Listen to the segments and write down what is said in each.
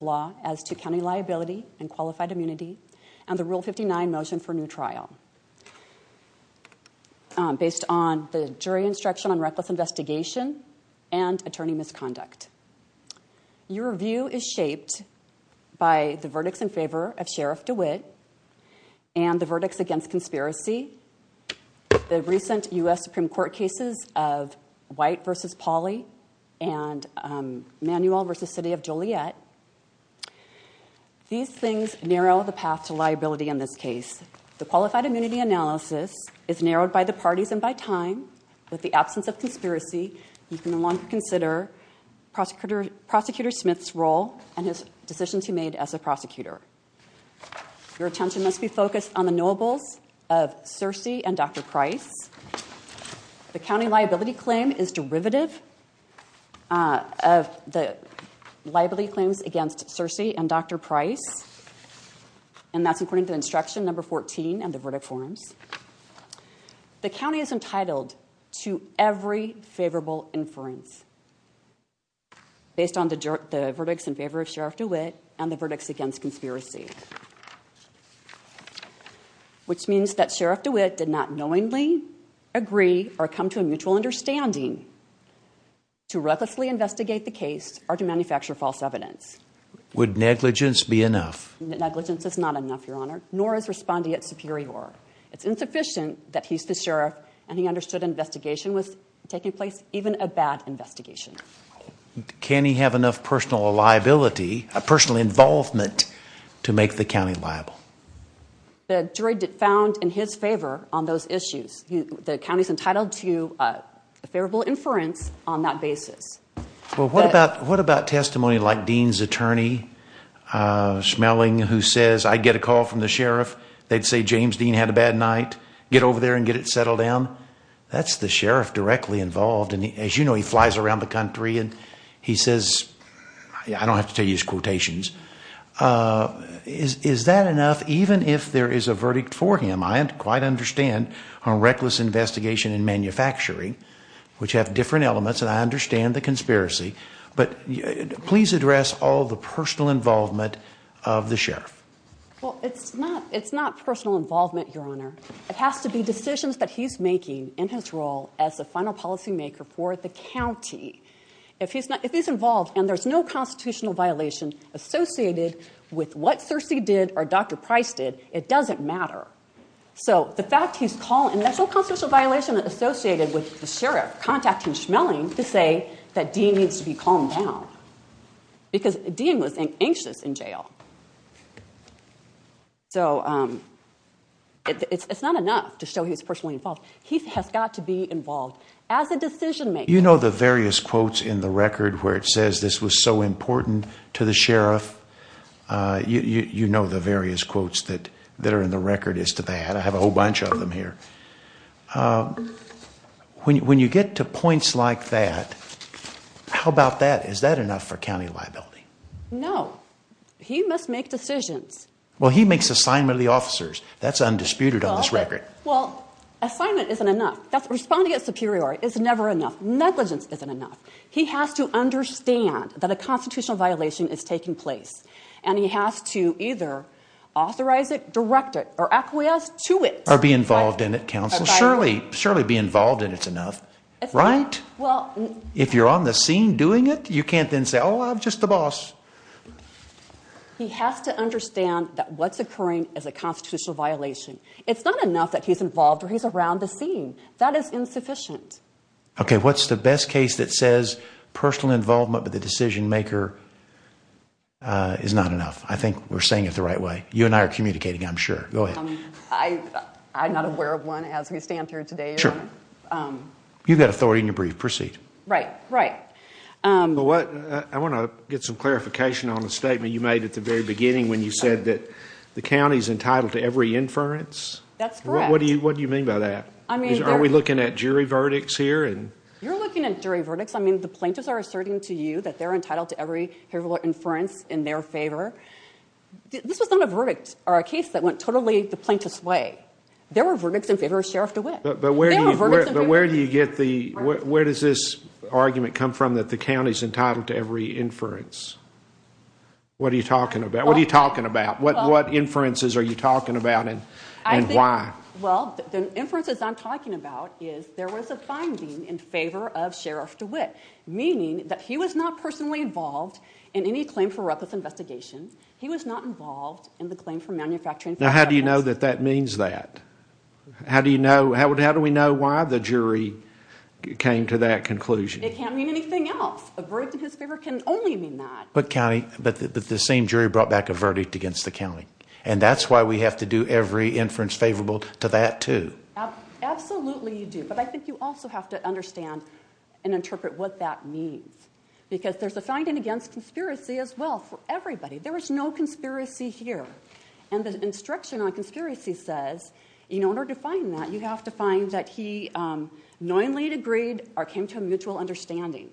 Law as to County Liability and Qualified Immunity and the Rule 59 Motion for New Trial based on the Jury Instruction on Reckless Investigation and Attorney Misconduct. Your view is shaped by the verdicts in favor of Sheriff DeWitt and the verdicts against conspiracy, the recent U.S. Supreme Court cases of White v. Pauley and Manuel v. City of Joliet, these things narrow the path to liability in this case. The Qualified Immunity Analysis is narrowed by the parties and by time. With the absence of conspiracy, you can no longer consider Prosecutor Smith's role and his decisions he made as a prosecutor. Your attention must be focused on the knowables of Searcey and Dr. Price. The County Liability Claim is derivative of the Liability Claims against Searcey and Dr. Price and that's according to Instruction No. 14 and the verdict forms. The County is entitled to every favorable inference based on the verdicts in favor of Sheriff DeWitt and the verdicts against conspiracy, which means that Sheriff DeWitt did not knowingly agree or come to a mutual understanding to recklessly investigate the case or to manufacture false evidence. Would negligence be enough? Negligence is not enough, Your Honor, nor is respondeat superior. It's insufficient that he's the Sheriff and he understood an investigation was taking place, even a bad investigation. The jury found in his favor on those issues. The County is entitled to a favorable inference on that basis. What about testimony like Dean's attorney Schmeling who says, I get a call from the Sheriff. They'd say James Dean had a bad night. Get over there and get it settled down. That's the Sheriff directly involved and as you know, he flies around the country and he says, I don't Is that enough? Even if there is a verdict for him, I quite understand a reckless investigation in manufacturing, which have different elements and I understand the conspiracy, but please address all the personal involvement of the Sheriff. Well, it's not personal involvement, Your Honor. It has to be decisions that he's making in his role as a final policymaker for the County. If he's involved and there's no or Dr. Price did, it doesn't matter. So the fact he's calling, that's all constitutional violation associated with the Sheriff contacting Schmeling to say that Dean needs to be calmed down because Dean was anxious in jail. So it's not enough to show he was personally involved. He has got to be involved as a decision maker. You know, the various quotes in the record where it says this was so important to the Sheriff. You know, the various quotes that are in the record is to that. I have a whole bunch of them here. When you get to points like that, how about that? Is that enough for County liability? No, he must make decisions. Well, he makes assignment of the officers. That's undisputed on this record. Well, assignment isn't enough. That's responding at superiority is never enough. Negligence isn't enough. He has to understand that a constitutional violation is taking place and he has to either authorize it, direct it, or acquiesce to it or be involved in it. Council surely, surely be involved in it's enough, right? Well, if you're on the scene doing it, you can't then say, Oh, I'm just the boss. He has to understand that what's occurring as a constitutional violation. It's not enough that he's involved or he's around the scene that is insufficient. Okay. What's the best case that says personal involvement, but the decision maker, uh, is not enough. I think we're saying it the right way. You and I are communicating. I'm sure. Go ahead. I, I'm not aware of one as we stand through today. Um, you've got authority in your brief proceed, right? Right. Um, but what I want to get some clarification on the statement you made at the very beginning when you said that the County's entitled to every inference. What do you, what do you mean by that? I mean, are we looking at jury verdicts here and you're looking at jury verdicts. I mean, the plaintiffs are asserting to you that they're entitled to every hair of inference in their favor. This was not a verdict or a case that went totally the plaintiff's way. There were verdicts in favor of Sheriff DeWitt. But where do you get the, where does this argument come from? That the County's entitled to every inference? What are you talking about? What are you talking about? What, what inferences are you talking about and why? Well, the inferences I'm talking about is there was a finding in favor of the Sheriff DeWitt, meaning that he was not personally involved in any claim for reckless investigation. He was not involved in the claim for manufacturing. Now, how do you know that that means that, how do you know, how would, how do we know why the jury came to that conclusion? It can't mean anything else. A verdict in his favor can only mean that. But County, but the same jury brought back a verdict against the County. And that's why we have to do every inference favorable to that Absolutely you do. But I think you also have to understand and interpret what that means. Because there's a finding against conspiracy as well for everybody. There was no conspiracy here. And the instruction on conspiracy says, in order to find that you have to find that he knowingly agreed or came to a mutual understanding.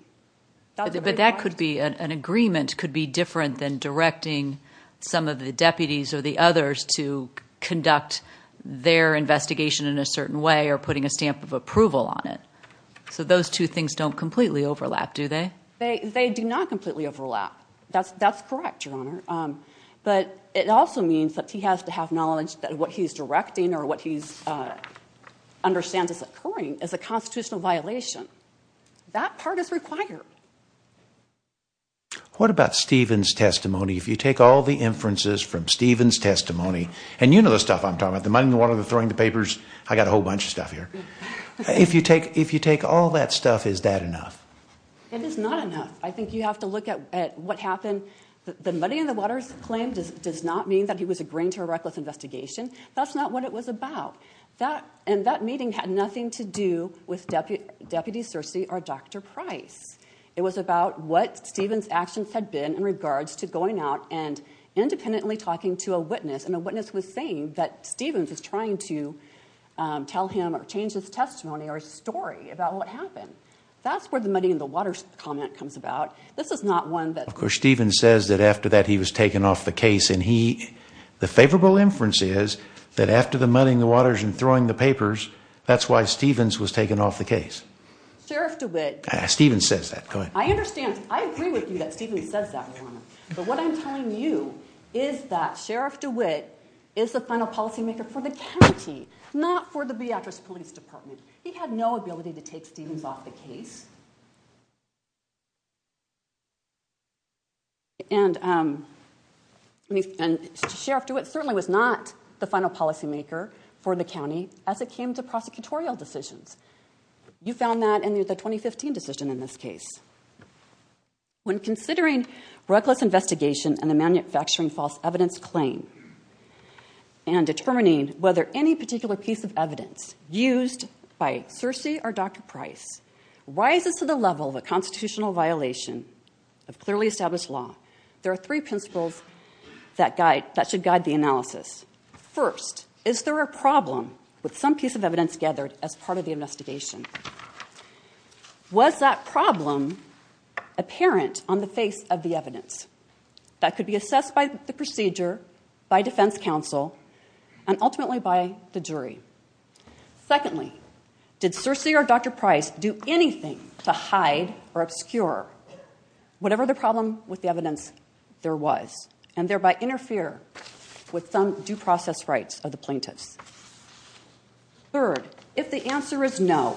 But that could be an agreement could be different than directing some of the deputies or the others to conduct their investigation in a certain way or putting a stamp of approval on it. So those two things don't completely overlap, do they? They do not completely overlap. That's correct, Your Honor. But it also means that he has to have knowledge that what he's directing or what he's understands is occurring is a constitutional violation. That part is required. What about Stephen's testimony? If you take all the inferences from Stephen's testimony, and you know the stuff I'm talking about, the money in the water, the throwing the papers, I got a whole bunch of stuff here. If you take all that stuff, is that enough? It is not enough. I think you have to look at what happened. The money in the water's claim does not mean that he was agreeing to a reckless investigation. That's not what it was about. And that meeting had nothing to do with Deputy Searcy or Dr. Price. It was about what Stephen's actions had been in regards to going out and independently talking to a witness. And a witness was saying that Stephen was trying to tell him or change his testimony or story about what happened. That's where the money in the water comment comes about. This is not one that... Of course, Stephen says that after that, he was taken off the case. The favorable inference is that after the money in the waters and throwing the papers, that's why Stephen's was taken off the case. Sheriff DeWitt... Stephen says that. Go ahead. I understand. I agree with you that Stephen says that. But what I'm telling you is that Sheriff DeWitt is the final policymaker for the county, not for the Beatrice Police Department. And Sheriff DeWitt certainly was not the final policymaker for the county as it came to prosecutorial decisions. You found that in the 2015 decision in this case. When considering reckless investigation and the manufacturing false evidence claim and determining whether any particular piece of evidence used by Searcy or Dr. Price rises to the level of a constitutional violation of clearly established law, there are three principles that should guide the analysis. First, is there a problem with some piece of evidence gathered as part of the investigation? Was that problem apparent on the face of the evidence that could be assessed by the procedure, by defense counsel, and ultimately by the jury? Secondly, did Searcy or Dr. Price do anything to hide or obscure whatever the problem with the evidence there was and thereby interfere with some due process rights of the plaintiffs? Third, if the answer is no,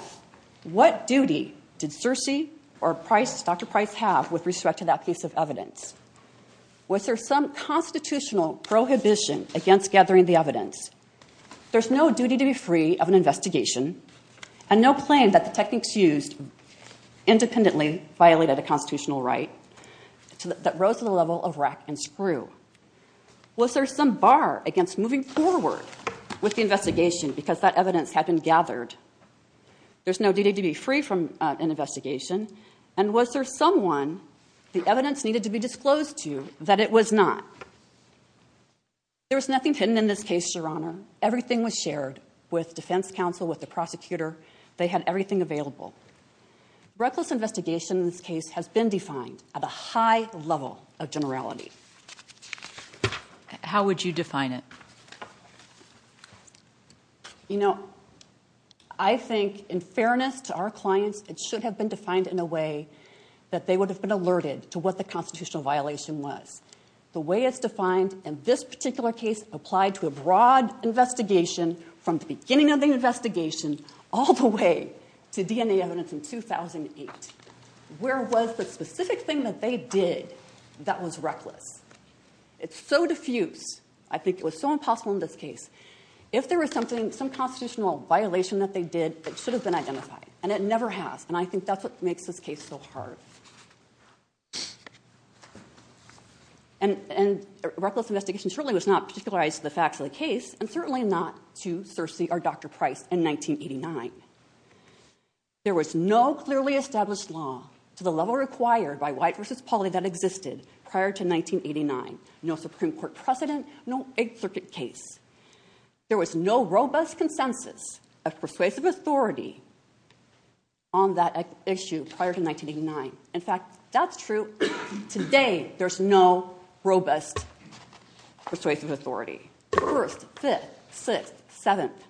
what duty did Searcy or Dr. Price have with respect to that piece of evidence? There's no duty to be free of an investigation and no claim that the techniques used independently violated a constitutional right that rose to the level of rack and screw. Was there some bar against moving forward with the investigation because that evidence had been gathered? There's no duty to be free from an investigation and was there someone the evidence was shared with defense counsel, with the prosecutor, they had everything available. Reckless investigation in this case has been defined at a high level of generality. How would you define it? You know, I think in fairness to our clients, it should have been defined in a way that they would have been alerted to what the constitutional violation was. The way it's defined in this case applied to a broad investigation from the beginning of the investigation all the way to DNA evidence in 2008. Where was the specific thing that they did that was reckless? It's so diffuse, I think it was so impossible in this case. If there was something, some constitutional violation that they did, it should have been identified and it never has and I think that's what makes this case so hard. Reckless investigation certainly was not particularized to the facts of the case and certainly not to Searcy or Dr. Price in 1989. There was no clearly established law to the level required by White v. Pauli that existed prior to 1989. No Supreme Court precedent, no 8th Circuit case. There was no robust consensus of persuasive authority on that issue prior to 1989. In fact, that's true today. There's no robust persuasive authority. First, fifth, sixth, seventh,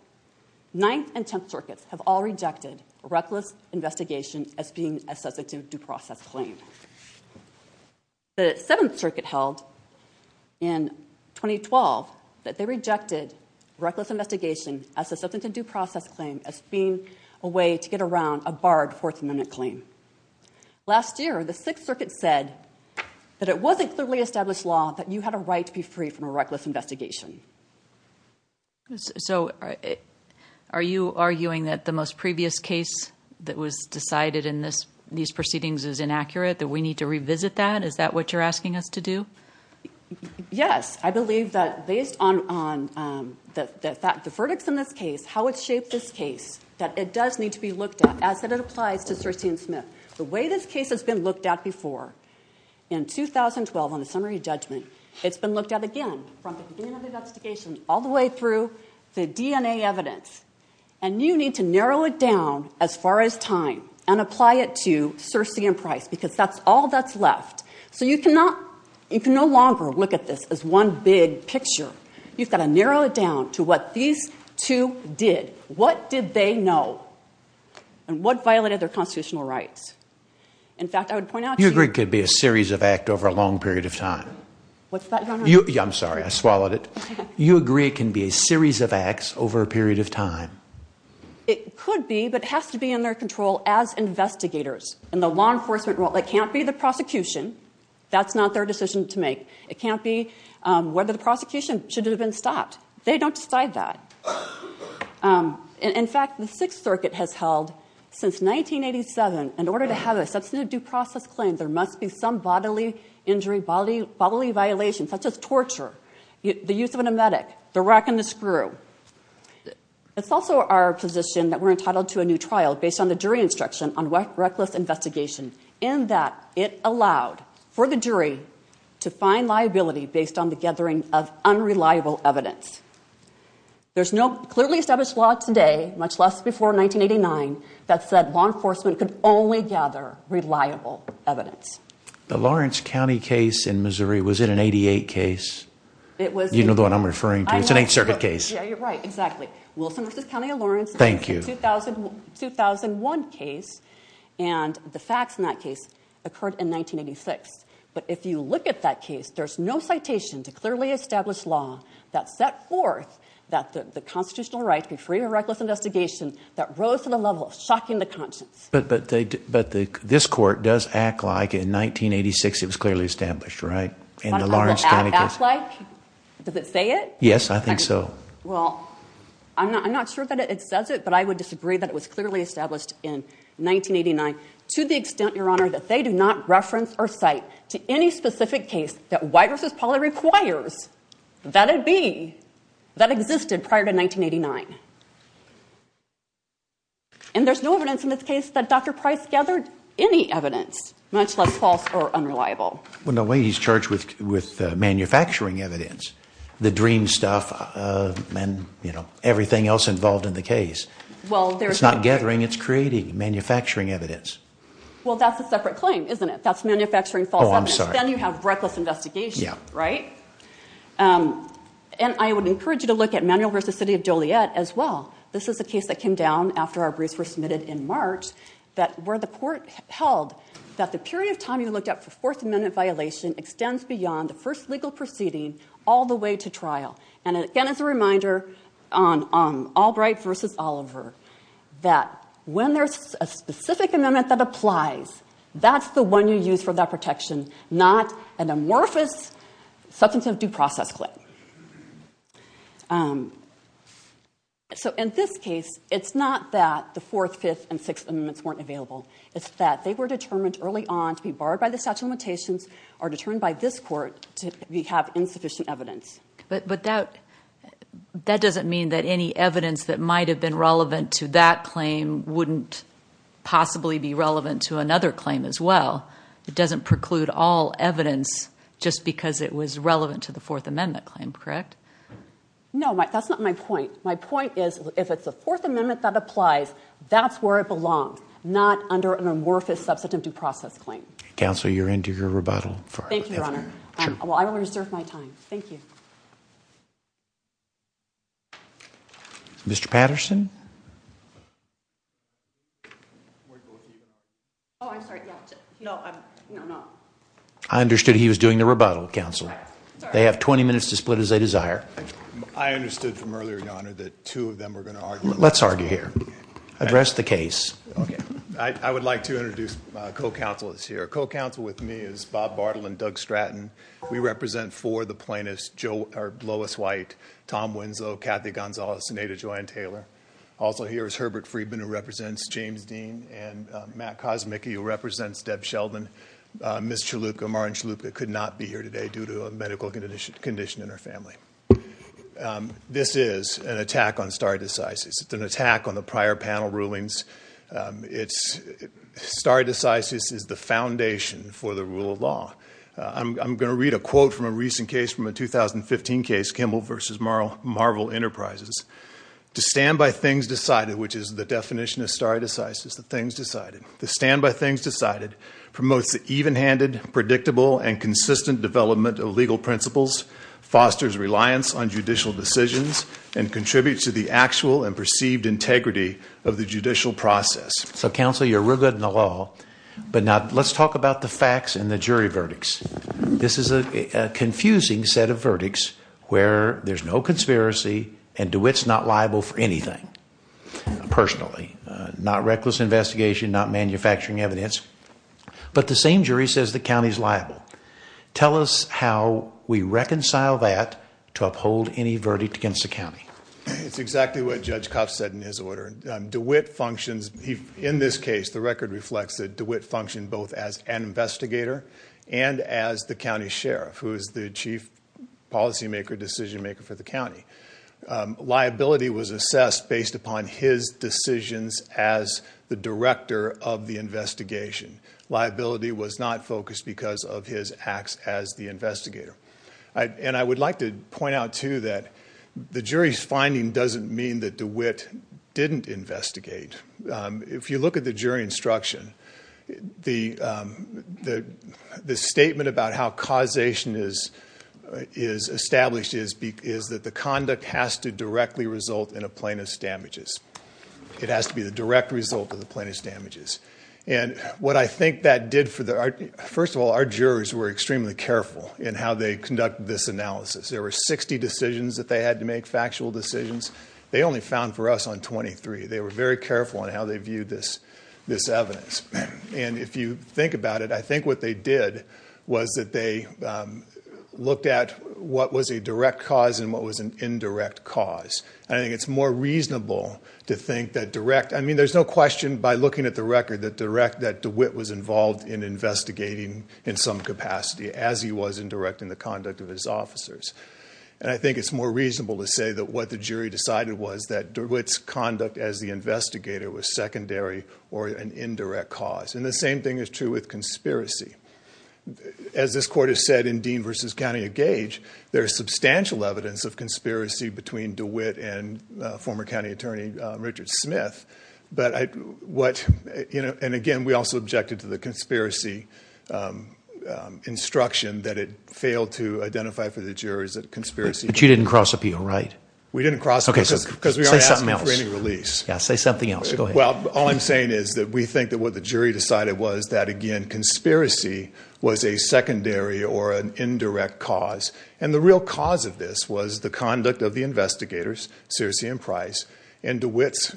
ninth and tenth circuits have all rejected reckless investigation as being a substantive due process claim. The seventh circuit held in 2012 that they rejected reckless investigation as a substantive due process claim as being a way to get around a barred Fourth Amendment claim. Last year, the sixth circuit said that it wasn't clearly established law that you had a right to be free from a reckless investigation. So are you arguing that the most previous case that was decided in these proceedings is inaccurate, that we need to revisit that? Is that what you're asking us to do? Yes. I believe that based on the verdicts in this case, how it shaped this case, that it does need to be looked at as it applies to Searcy and Smith. The way this case has been looked at before in 2012 on the summary judgment, it's been looked at again from the beginning of the investigation all the way through the DNA evidence. And you need to narrow it down as far as time and apply it to Searcy and Price because that's all that's left. So you cannot, you can no longer look at this as one big picture. You've got to narrow it down to what these two did. What did they know? And what violated their constitutional rights? In fact, I would point out. You agree it could be a series of act over a long period of time. What's that? I'm sorry. I swallowed it. You agree it can be a series of acts over a period of time. It could be, but it has to be in their control as investigators in the law enforcement role. It can't be the prosecution. That's not their decision to make. It can't be whether the prosecution should have been stopped. They don't decide that. In fact, the Sixth Circuit has held since 1987, in order to have a substantive due process claim, there must be some bodily injury, bodily violation, such as torture, the use of an emetic, the rack and the screw. It's also our position that we're entitled to a new trial based on the jury instruction on reckless investigation, and that it allowed for the jury to find liability based on the gathering of unreliable evidence. There's no clearly established law today, much less before 1989, that said law enforcement could only gather reliable evidence. The Lawrence County case in Missouri, was it an 88 case? It was. You know the one I'm referring to. It's an Eighth Circuit case. Exactly. Wilson v. County of Lawrence. It's a 2001 case, and the facts in that case occurred in 1986. But if you look at that case, there's no citation to clearly established law that set forth that the constitutional right to be free of reckless investigation, that rose to the level of shocking the conscience. But this court does act like in 1986, it was clearly established, right? Does it say it? Yes, I think so. Well, I'm not sure that it says it, but I would disagree that it was clearly established in 1989 to the extent, your honor, that they do not reference or cite to any specific case that White v. Pauley requires that it be, that existed prior to 1989. And there's no evidence in this case that Dr. Price gathered any evidence, much less false or unreliable. Well, no, he's charged with manufacturing evidence, the dream stuff, and everything else involved in the case. It's not gathering, it's creating manufacturing evidence. Well, that's a separate claim, isn't it? That's manufacturing false evidence, then you have reckless investigation, right? And I would encourage you to look at Manuel v. City of Joliet as well. This is a case that came down after our briefs were submitted in March, where the court held that the period of time you looked at for Fourth Amendment violation extends beyond the first legal proceeding all the way to trial. And again, as a reminder on Albright v. Oliver, that when there's a specific amendment that applies, that's the one you use for that protection, not an amorphous substance of due process claim. So in this case, it's not that the Fourth, Fifth, and Sixth Amendments weren't available. It's that they were determined early on to be barred by the statute of limitations or determined by this court to have insufficient evidence. But that doesn't mean that any evidence that might have been relevant to that claim wouldn't possibly be relevant to another claim as well. It doesn't preclude all evidence just because it was relevant to the Fourth Amendment claim, correct? No, that's not my point. My point is, if it's the Fourth Amendment that applies, that's where it belongs, not under an amorphous substance of due process claim. Counsel, you're into your rebuttal. Thank you, Your Honor. Well, I will reserve my time. Thank you. Mr. Patterson? Oh, I'm sorry. No, I'm not. I understood he was doing the rebuttal, Counsel. They have 20 minutes to split as they desire. I understood from earlier, Your Honor, that two of them were going to argue. Let's argue here. Address the case. I would like to introduce my co-counselors here. Co-counsel with me is Bob Bartle and Doug Stratton. We represent four of the plaintiffs, Lois White, Tom Winslow, Kathy Gonzalez, and Ada Joanne Taylor. Also here is Herbert Friedman, who represents James Dean, and Matt Kosmicki, who represents Deb Sheldon. Ms. Chalupka, Martin Chalupka, could not be here today due to a medical condition in her family. This is an attack on stare decisis. It's an attack on the prior panel rulings. Stare decisis is the foundation for the rule of law. I'm going to read a quote from a recent case from a 2015 case, Kimball v. Marvel Enterprises. To stand by things decided, which is the definition of stare decisis, the things decided. To stand by things decided promotes the even-handed, predictable, and consistent development of legal principles, fosters reliance on judicial decisions, and contributes to the actual and perceived integrity of the judicial process. So, counsel, you're real good in the law, but now let's talk about the facts and the jury verdicts. This is a confusing set of verdicts where there's no conspiracy, and DeWitt's not liable for anything, personally. Not reckless investigation, not manufacturing evidence, but the same jury says the county's liable. Tell us how we reconcile that to uphold any verdict against the county. It's exactly what Judge Kopp said in his order. DeWitt functions, in this case, the record reflects that DeWitt functioned both as an investigator and as the county sheriff, who is the chief policymaker, decision maker for the county. Liability was assessed based upon his decisions as the director of the investigation. Liability was not focused because of his acts as the investigator. And I would like to point out, too, that the jury's finding doesn't mean that DeWitt didn't investigate. If you look at the jury instruction, the statement about how causation is established is that the conduct has to directly result in a plaintiff's damages. It has to be the direct result of the plaintiff's damages. First of all, our jurors were extremely careful in how they conducted this analysis. There were 60 decisions that they had to make, factual decisions. They only found for us on 23. They were very careful in how they viewed this evidence. And if you think about it, I think what they did was that they looked at what was a direct cause and what was an indirect cause. I think it's more reasonable to think that direct—I mean, there's no question by looking at the record that DeWitt was involved in investigating in some capacity, as he was in directing the conduct of his officers. And I think it's more reasonable to say that what the jury decided was that DeWitt's conduct as the investigator was secondary or an indirect cause. And the same thing is true with conspiracy. As this court has said in Dean v. County of Gage, there's substantial evidence of conspiracy between DeWitt and former county attorney Richard Smith. But what—and again, we also objected to the conspiracy instruction that it failed to identify for the jurors that conspiracy— But you didn't cross-appeal, right? We didn't cross— OK, say something else. Yeah, say something else. Go ahead. Well, all I'm saying is that we think that what the jury decided was that, again, conspiracy was a secondary or an indirect cause. And the real cause of this was the conduct of the investigators, Searcy and Price, and DeWitt's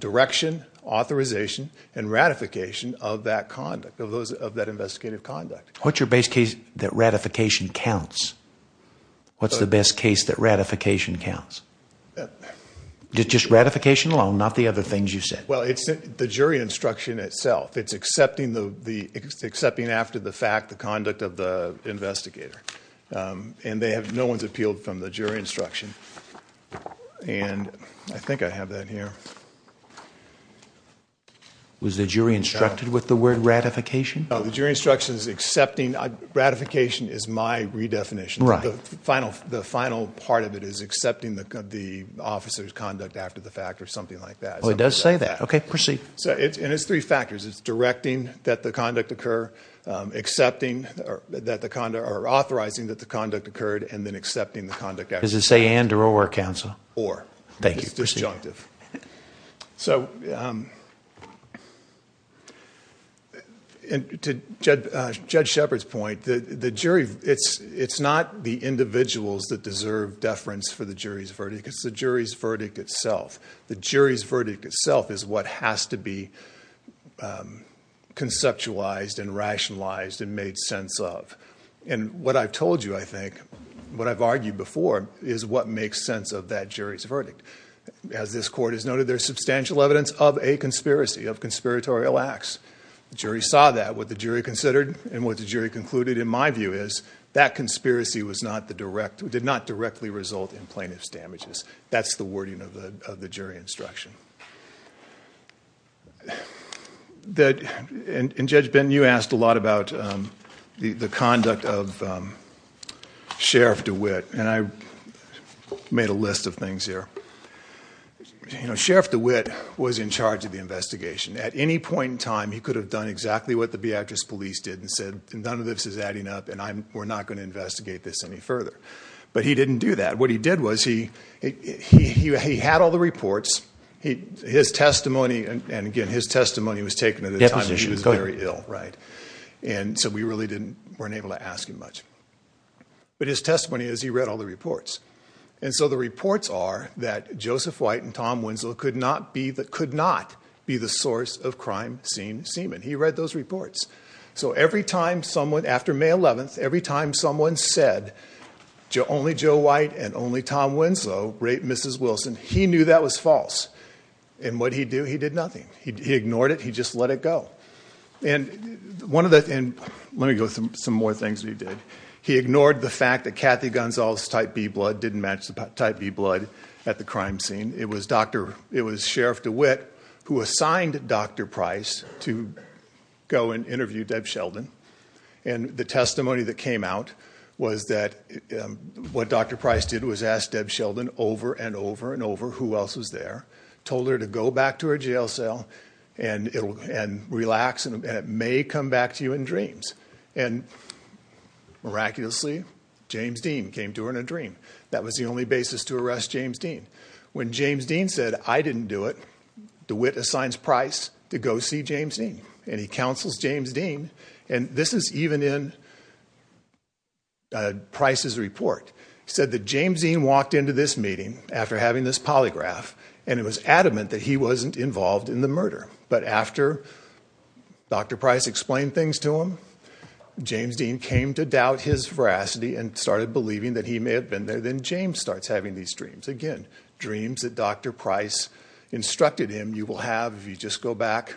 direction, authorization, and ratification of that conduct, of that investigative conduct. What's your base case that ratification counts? What's the best case that ratification counts? Just ratification alone, not the other things you said. Well, it's the jury instruction itself. It's accepting after the fact the conduct of the investigator. And they have—no one's appealed from the jury instruction. And I think I have that here. Was the jury instructed with the word ratification? No, the jury instruction is accepting—ratification is my redefinition. Right. The final part of it is accepting the officer's conduct after the fact or something like that. Well, it does say that. OK, proceed. And it's three factors. It's directing that the conduct occur, accepting or authorizing that the conduct occurred, and then accepting the conduct after the fact. Does it say and or or, counsel? Or. Thank you. It's disjunctive. So, to Judge Shepard's point, the jury—it's not the individuals that deserve deference for the jury's verdict, it's the jury's verdict itself. The jury's verdict itself is what has to be conceptualized and rationalized and made sense of. And what I've told you, I think, what I've argued before, as this court has noted, there's substantial evidence of a conspiracy, of conspiratorial acts. The jury saw that. What the jury considered and what the jury concluded, in my view, is that conspiracy did not directly result in plaintiff's damages. That's the wording of the jury instruction. And Judge Benton, you asked a lot about the conduct of Sheriff DeWitt, and I made a list of things here. You know, Sheriff DeWitt was in charge of the investigation. At any point in time, he could have done exactly what the Beatrice Police did and said, none of this is adding up, and we're not going to investigate this any further. But he didn't do that. What he did was, he had all the reports. His testimony—and again, his testimony was taken at a time when he was very ill, right? And so we really weren't able to ask him much. But his testimony is, he read all the reports. And so the reports are that Joseph White and Tom Winslow could not be the source of crime scene semen. He read those reports. So every time someone, after May 11th, every time someone said, only Joe White and only Tom Winslow raped Mrs. Wilson, he knew that was false. And what'd he do? He did nothing. He ignored it. He just let it go. And one of the—and let me go through some more things that he did. He ignored the fact that Kathy Gonzales' type B blood didn't match the type B blood at the crime scene. It was Sheriff DeWitt who assigned Dr. Price to go and interview Deb Sheldon. And the testimony that came out was that what Dr. Price did was ask Deb Sheldon over and over and over who else was there, told her to go back to her jail cell and relax, and it may come back to you in dreams. And miraculously, James Dean came to her in a dream. That was the only basis to arrest James Dean. When James Dean said, I didn't do it, DeWitt assigns Price to go see James Dean, and he counsels James Dean. And this is even in Price's report. He said that James Dean walked into this meeting after having this polygraph, and it was adamant that he wasn't involved in the murder. But after Dr. Price explained things to him, James Dean came to doubt his veracity and started believing that he may have been there. Then James starts having these dreams. Again, dreams that Dr. Price instructed him you will have if you just go back,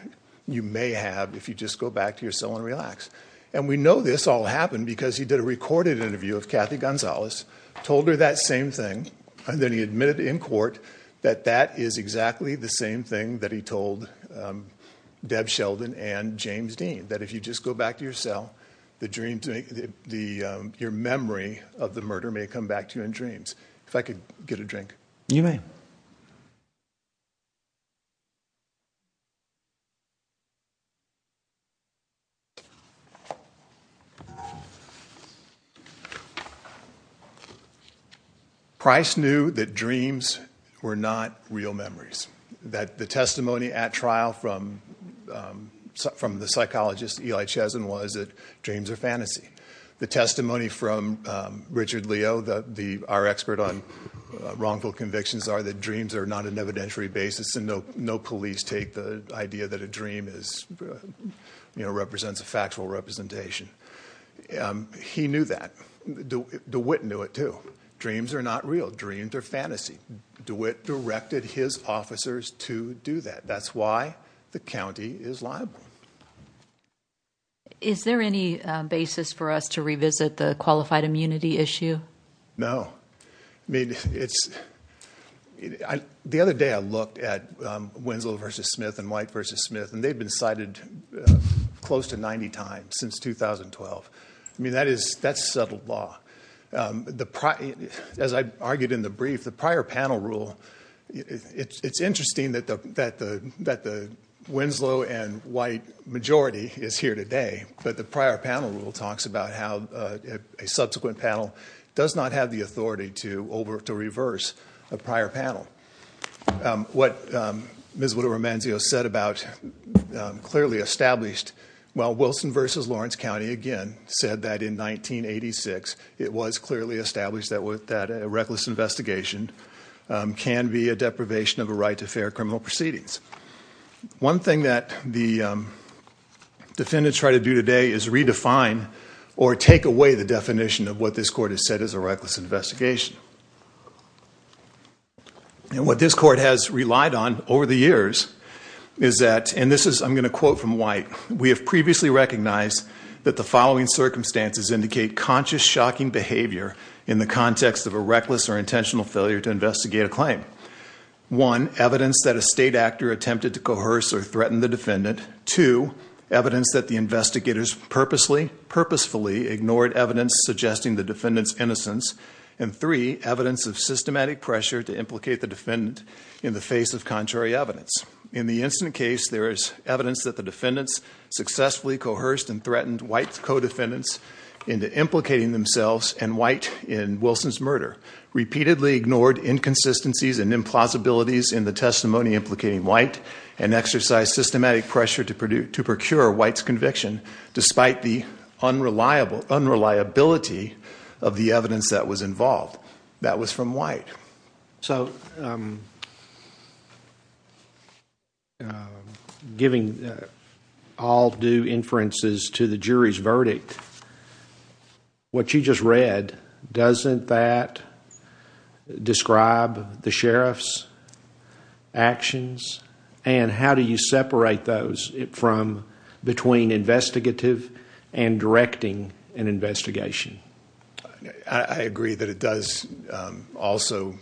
you may have if you just go back to your cell and relax. And we know this all happened because he did a recorded interview of Kathy Gonzales, told her that same thing, and then he admitted in court that that is exactly the same thing that he told Deb Sheldon and James Dean, that if you just go back to your cell, your memory of the murder may come back to you in dreams. If I could get a drink. You may. Thank you. Price knew that dreams were not real memories, that the testimony at trial from the psychologist Eli Chesin was that dreams are fantasy. The testimony from Richard Leo, our expert on wrongful convictions, are that dreams are not an evidentiary basis and no police take the idea that a dream represents a factual representation. He knew that. DeWitt knew it too. Dreams are not real. Dreams are fantasy. DeWitt directed his officers to do that. That's why the county is liable. Is there any basis for us to revisit the qualified immunity issue? No, I mean, it's the other day I looked at Winslow versus Smith and White versus Smith and they've been cited close to 90 times since 2012. I mean, that is that's settled law. The as I argued in the brief, the prior panel rule, it's interesting that the that the Winslow and White majority is here today. But the prior panel rule talks about how a subsequent panel does not have the authority to over to reverse a prior panel. What Ms. Romanzo said about clearly established, well, Wilson versus Lawrence County again said that in 1986, it was clearly established that with that reckless investigation can be a deprivation of a right to fair criminal proceedings. One thing that the defendants try to do today is redefine or take away the definition of what this court has said is a reckless investigation. And what this court has relied on over the years is that and this is I'm going to quote from White. We have previously recognized that the following circumstances indicate conscious, shocking behavior in the context of a reckless or intentional failure to investigate a claim. One, evidence that a state actor attempted to coerce or threaten the defendant. Two, evidence that the investigators purposely, purposefully ignored evidence suggesting the defendant's innocence. And three, evidence of systematic pressure to implicate the defendant in the face of contrary evidence. In the incident case, there is evidence that the defendants successfully coerced and threatened White's co-defendants into implicating themselves and White in Wilson's murder. Repeatedly ignored inconsistencies and implausibilities in the testimony implicating White and exercised systematic pressure to procure White's conviction despite the unreliability of the evidence that was involved. That was from White. So giving all due inferences to the jury's verdict, what you just read, doesn't that describe the Sheriff's actions? And how do you separate those from between investigative and directing an investigation? I agree that it does also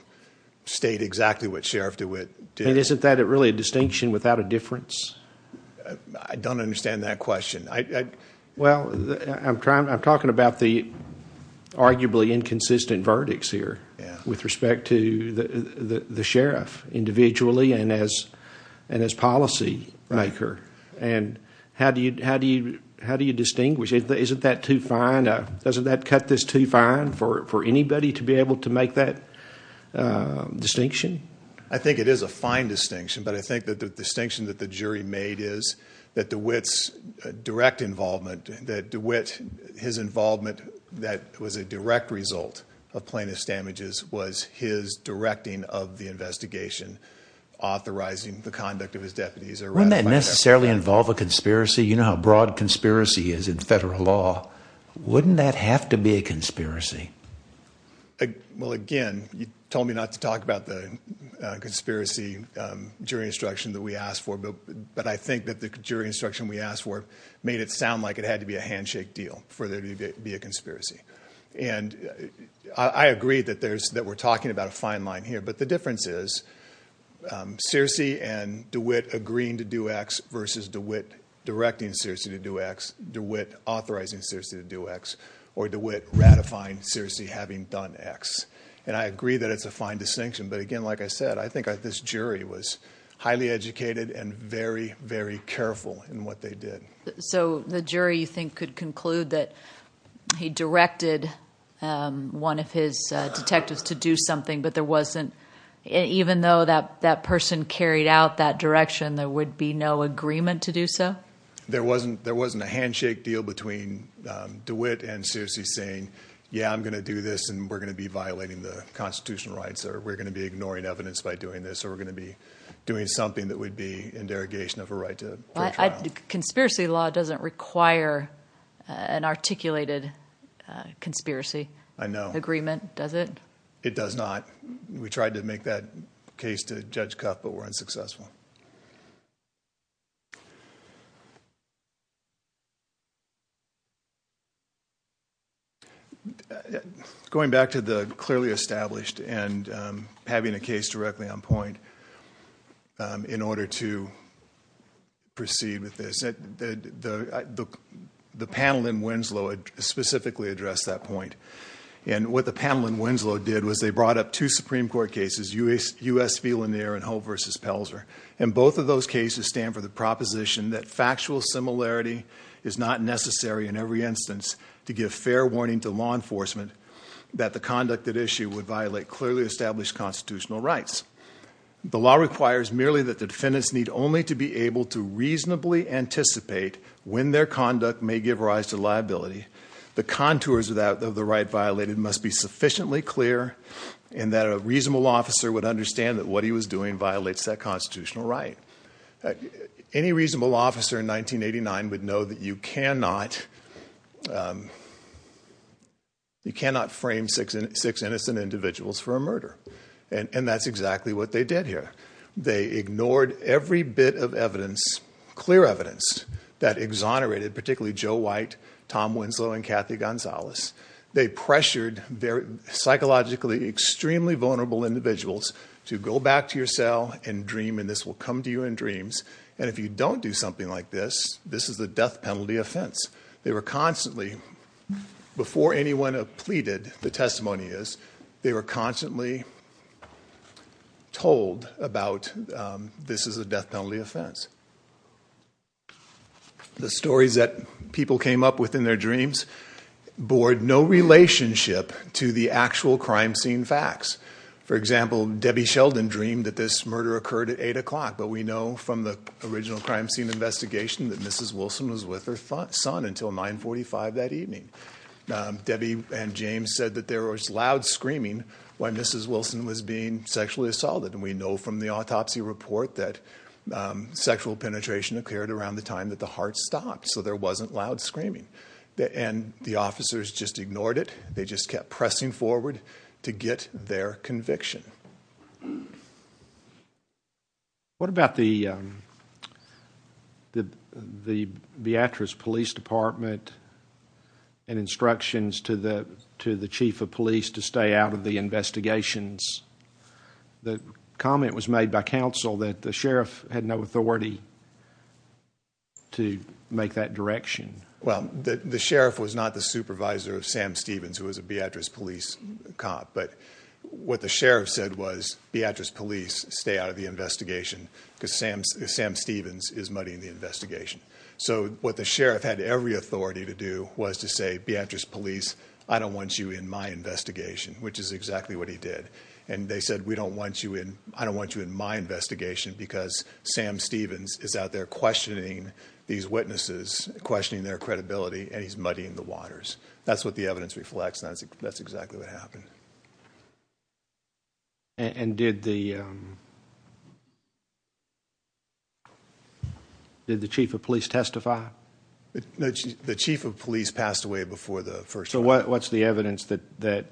state exactly what Sheriff DeWitt did. Isn't that really a distinction without a difference? I don't understand that question. Well, I'm talking about the arguably inconsistent verdicts here with respect to the Sheriff individually and as policy maker. And how do you distinguish? Isn't that too fine? Doesn't that cut this too fine for anybody to be able to make that distinction? I think it is a fine distinction, but I think that the distinction that the jury made is that DeWitt's direct involvement, that DeWitt, his involvement that was a direct result of plaintiff's damages was his directing of the investigation, authorizing the conduct of his deputies. Wouldn't that necessarily involve a conspiracy? You know how broad conspiracy is in federal law. Wouldn't that have to be a conspiracy? Well, again, you told me not to talk about the conspiracy jury instruction that we asked for, but I think that the jury instruction we asked for made it sound like it had to be a handshake deal for there to be a conspiracy. And I agree that we're talking about a fine line here. But the difference is, Searcy and DeWitt agreeing to do X versus DeWitt directing Searcy to do X, DeWitt authorizing Searcy to do X, or DeWitt ratifying Searcy having done X. And I agree that it's a fine distinction. But again, like I said, I think this jury was highly educated and very, very careful in what they did. So the jury, you think, could conclude that he directed one of his detectives to do something, but there wasn't, even though that person carried out that direction, there would be no agreement to do so? There wasn't a handshake deal between DeWitt and Searcy saying, yeah, I'm going to do this and we're going to be violating the constitutional rights, or we're going to be ignoring evidence by doing this, or we're going to be doing something that would be in derogation of a right to a trial. Conspiracy law doesn't require an articulated conspiracy agreement, does it? It does not. We tried to make that case to Judge Cuff, but were unsuccessful. Going back to the clearly established and having a case directly on point in order to proceed with this, the panel in Winslow specifically addressed that point. And what the panel in Winslow did was they brought up two Supreme Court cases, U.S. V. Lanier and Hope v. Pelzer. And both of those cases stand for the proposition that factual similarity is not necessary in every instance to give fair warning to law enforcement that the conduct at issue would violate clearly established constitutional rights. The law requires merely that the defendants need only to be able to reasonably anticipate when their conduct may give rise to liability. The contours of the right violated must be sufficiently clear and that a reasonable officer would understand that what he was doing violates that constitutional right. Any reasonable officer in 1989 would know that you cannot frame six innocent individuals for a murder. And that's exactly what they did here. They ignored every bit of evidence, clear evidence, that exonerated particularly Joe White, Tom Winslow, and Kathy Gonzalez. They pressured psychologically extremely vulnerable individuals to go back to your cell and dream and this will come to you in dreams. And if you don't do something like this, this is a death penalty offense. They were constantly, before anyone pleaded, the testimony is, they were constantly told about this is a death penalty offense. The stories that people came up with in their dreams bore no relationship to the actual crime scene facts. For example, Debbie Sheldon dreamed that this murder occurred at 8 o'clock, but we know from the original crime scene investigation that Mrs. Wilson was with her son until 945 that evening. Debbie and James said that there was loud screaming when Mrs. Wilson was being sexually assaulted. We know from the autopsy report that sexual penetration occurred around the time that the heart stopped, so there wasn't loud screaming. And the officers just ignored it. They just kept pressing forward to get their conviction. What about the Beatrice Police Department and instructions to the chief of police to stay out of the investigations? The comment was made by counsel that the sheriff had no authority to make that direction. Well, the sheriff was not the supervisor of Sam Stevens, who was a Beatrice Police cop, but what the sheriff said was Beatrice Police stay out of the investigation because Sam Stevens is muddying the investigation. So what the sheriff had every authority to do was to say, Beatrice Police, I don't want you in my investigation, which is exactly what he did. And they said, we don't want you in. I don't want you in my investigation because Sam Stevens is out there questioning these witnesses, questioning their credibility, and he's muddying the waters. That's what the evidence reflects. That's exactly what happened. And did the chief of police testify? The chief of police passed away before the first. What's the evidence that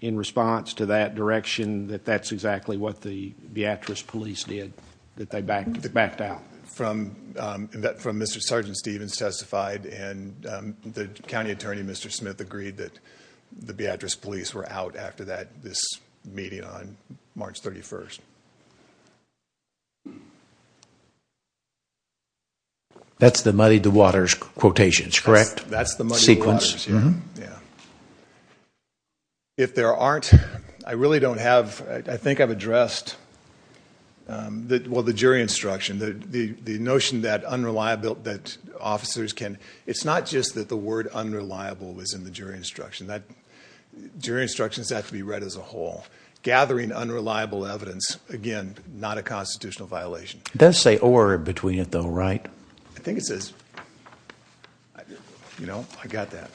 in response to that direction, that that's exactly what the Beatrice Police did, that they backed out? From Mr. Sgt. Stevens testified, and the county attorney, Mr. Smith, agreed that the Beatrice Police were out after that, this meeting on March 31st. That's the muddy the waters quotations, correct? That's the muddy the waters, yes. Yeah. If there aren't, I really don't have, I think I've addressed the, well, the jury instruction, the notion that unreliable, that officers can, it's not just that the word unreliable was in the jury instruction, that jury instructions have to be read as a whole. Gathering unreliable evidence, again, not a constitutional violation. It does say or between it though, right? I think it says, you know, I got that.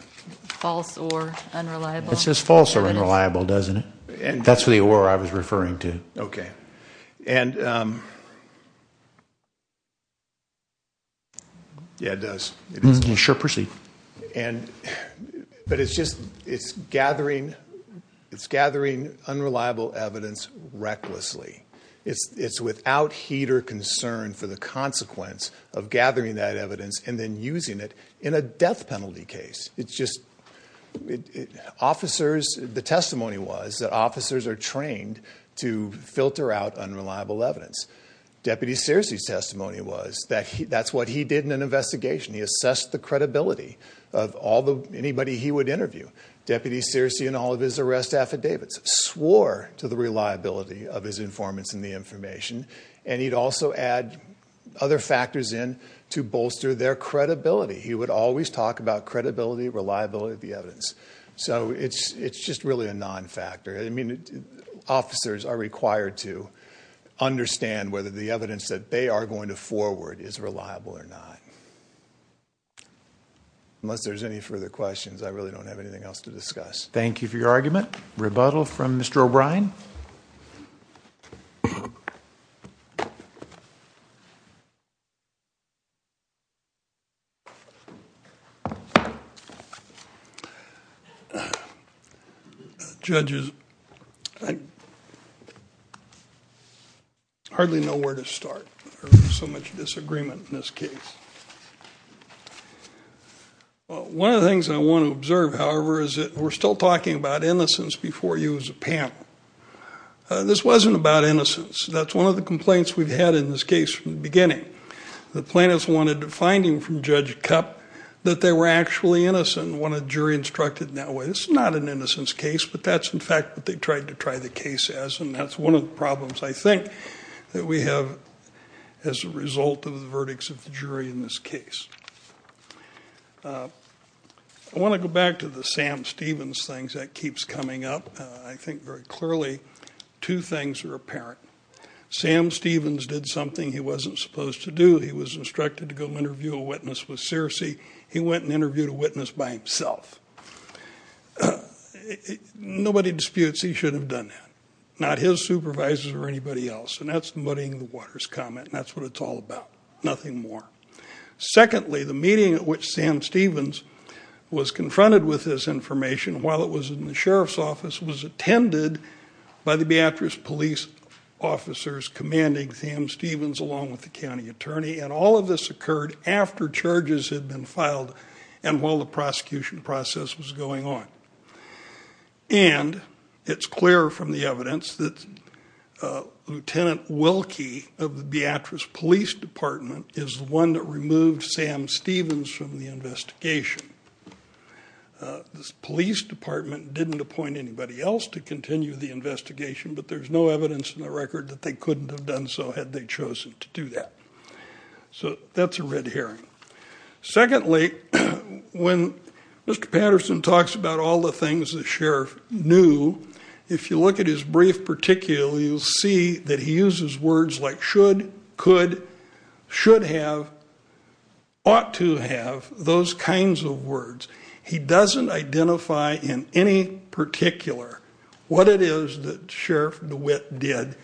False or unreliable. It says false or unreliable, doesn't it? That's what I was referring to. Okay. And, yeah, it does. Sure, proceed. And, but it's just, it's gathering, it's gathering unreliable evidence recklessly. It's, it's without heat or concern for the consequence of gathering that evidence and then using it in a death penalty case. It's just officers, the testimony was that officers are trained to filter out unreliable evidence. Deputy Searcy's testimony was that that's what he did in an investigation. He assessed the credibility of all the, anybody he would interview. Deputy Searcy and all of his arrest affidavits swore to the reliability of his informants and the information. And he'd also add other factors in to bolster their credibility. He would always talk about credibility, reliability of the evidence. So it's, it's just really a non-factor. I mean, officers are required to understand whether the evidence that they are going to forward is reliable or not. Unless there's any further questions, I really don't have anything else to discuss. Thank you for your argument. Rebuttal from Mr. O'Brien. Judge, I hardly know where to start. There's so much disagreement in this case. One of the things I want to observe, however, is that we're still talking about innocence before you as a panel. This wasn't about innocence. That's one of the complaints we've had in this case from the beginning. The plaintiffs wanted a finding from Judge Kupp that they were actually innocent when a jury instructed in that way. This is not an innocence case, but that's, in fact, what they tried to try the case as. And that's one of the problems, I think, that we have as a result of the verdicts of the jury in this case. I want to go back to the Sam Stevens things. That keeps coming up. I think very clearly two things are apparent. Sam Stevens did something he wasn't supposed to do. He was instructed to go interview a witness with Searcy. He went and interviewed a witness by himself. Nobody disputes he should have done that. Not his supervisors or anybody else. And that's muddying the waters comment. That's what it's all about. Nothing more. Secondly, the meeting at which Sam Stevens was confronted with this information while it was in the Sheriff's Office was attended by the Beatrice Police officers commanding Sam Stevens along with the county attorney. And all of this occurred after charges had been filed and while the prosecution process was going on. And it's clear from the evidence that Lieutenant Wilkie of the Beatrice Police Department is the one that removed Sam Stevens from the investigation. The police department didn't appoint anybody else to continue the investigation, but there's no evidence in the record that they couldn't have done so had they chosen to do that. So that's a red herring. Secondly, when Mr. Patterson talks about all the things the sheriff knew, if you look at his brief particular, you'll see that he uses words like should, could, should have, ought to have, those kinds of words. He doesn't identify in any particular what it is that Sheriff DeWitt did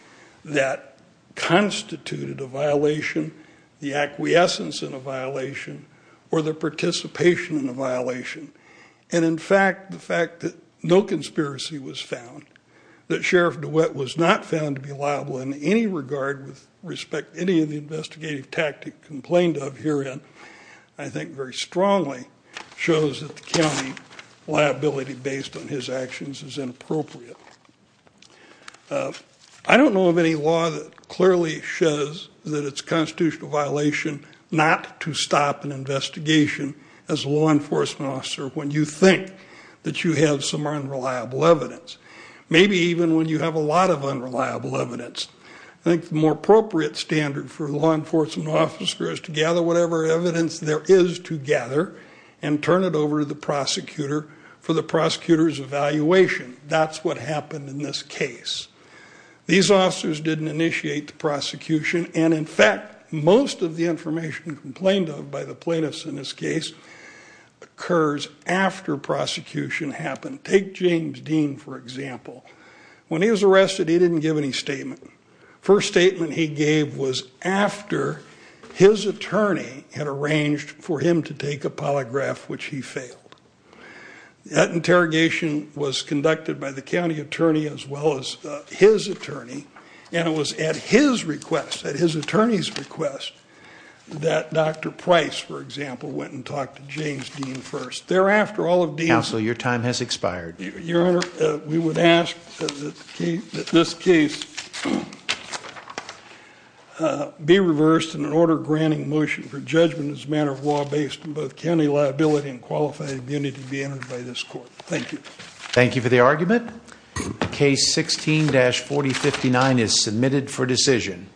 that constituted a violation, the acquiescence in a violation, or the participation in a violation. And in fact, the fact that no conspiracy was found, that Sheriff DeWitt was not found to be unreliable in any regard with respect to any of the investigative tactic complained of herein, I think very strongly shows that the county liability based on his actions is inappropriate. I don't know of any law that clearly shows that it's a constitutional violation not to stop an investigation as a law enforcement officer when you think that you have some unreliable evidence. Maybe even when you have a lot of unreliable evidence. I think the more appropriate standard for a law enforcement officer is to gather whatever evidence there is to gather and turn it over to the prosecutor for the prosecutor's evaluation. That's what happened in this case. These officers didn't initiate the prosecution, and in fact, most of the information complained of by the plaintiffs in this case occurs after prosecution happened. Take James Dean, for example. When he was arrested, he didn't give any statement. First statement he gave was after his attorney had arranged for him to take a polygraph, which he failed. That interrogation was conducted by the county attorney as well as his attorney, and it was at his request, at his attorney's request, that Dr. Price, for example, went and talked to James Dean first. Counsel, your time has expired. Your Honor, we would ask that this case be reversed in an order granting motion for judgment as a matter of law based on both county liability and qualified immunity be entered by this court. Thank you. Thank you for the argument. Case 16-4059 is submitted for decision.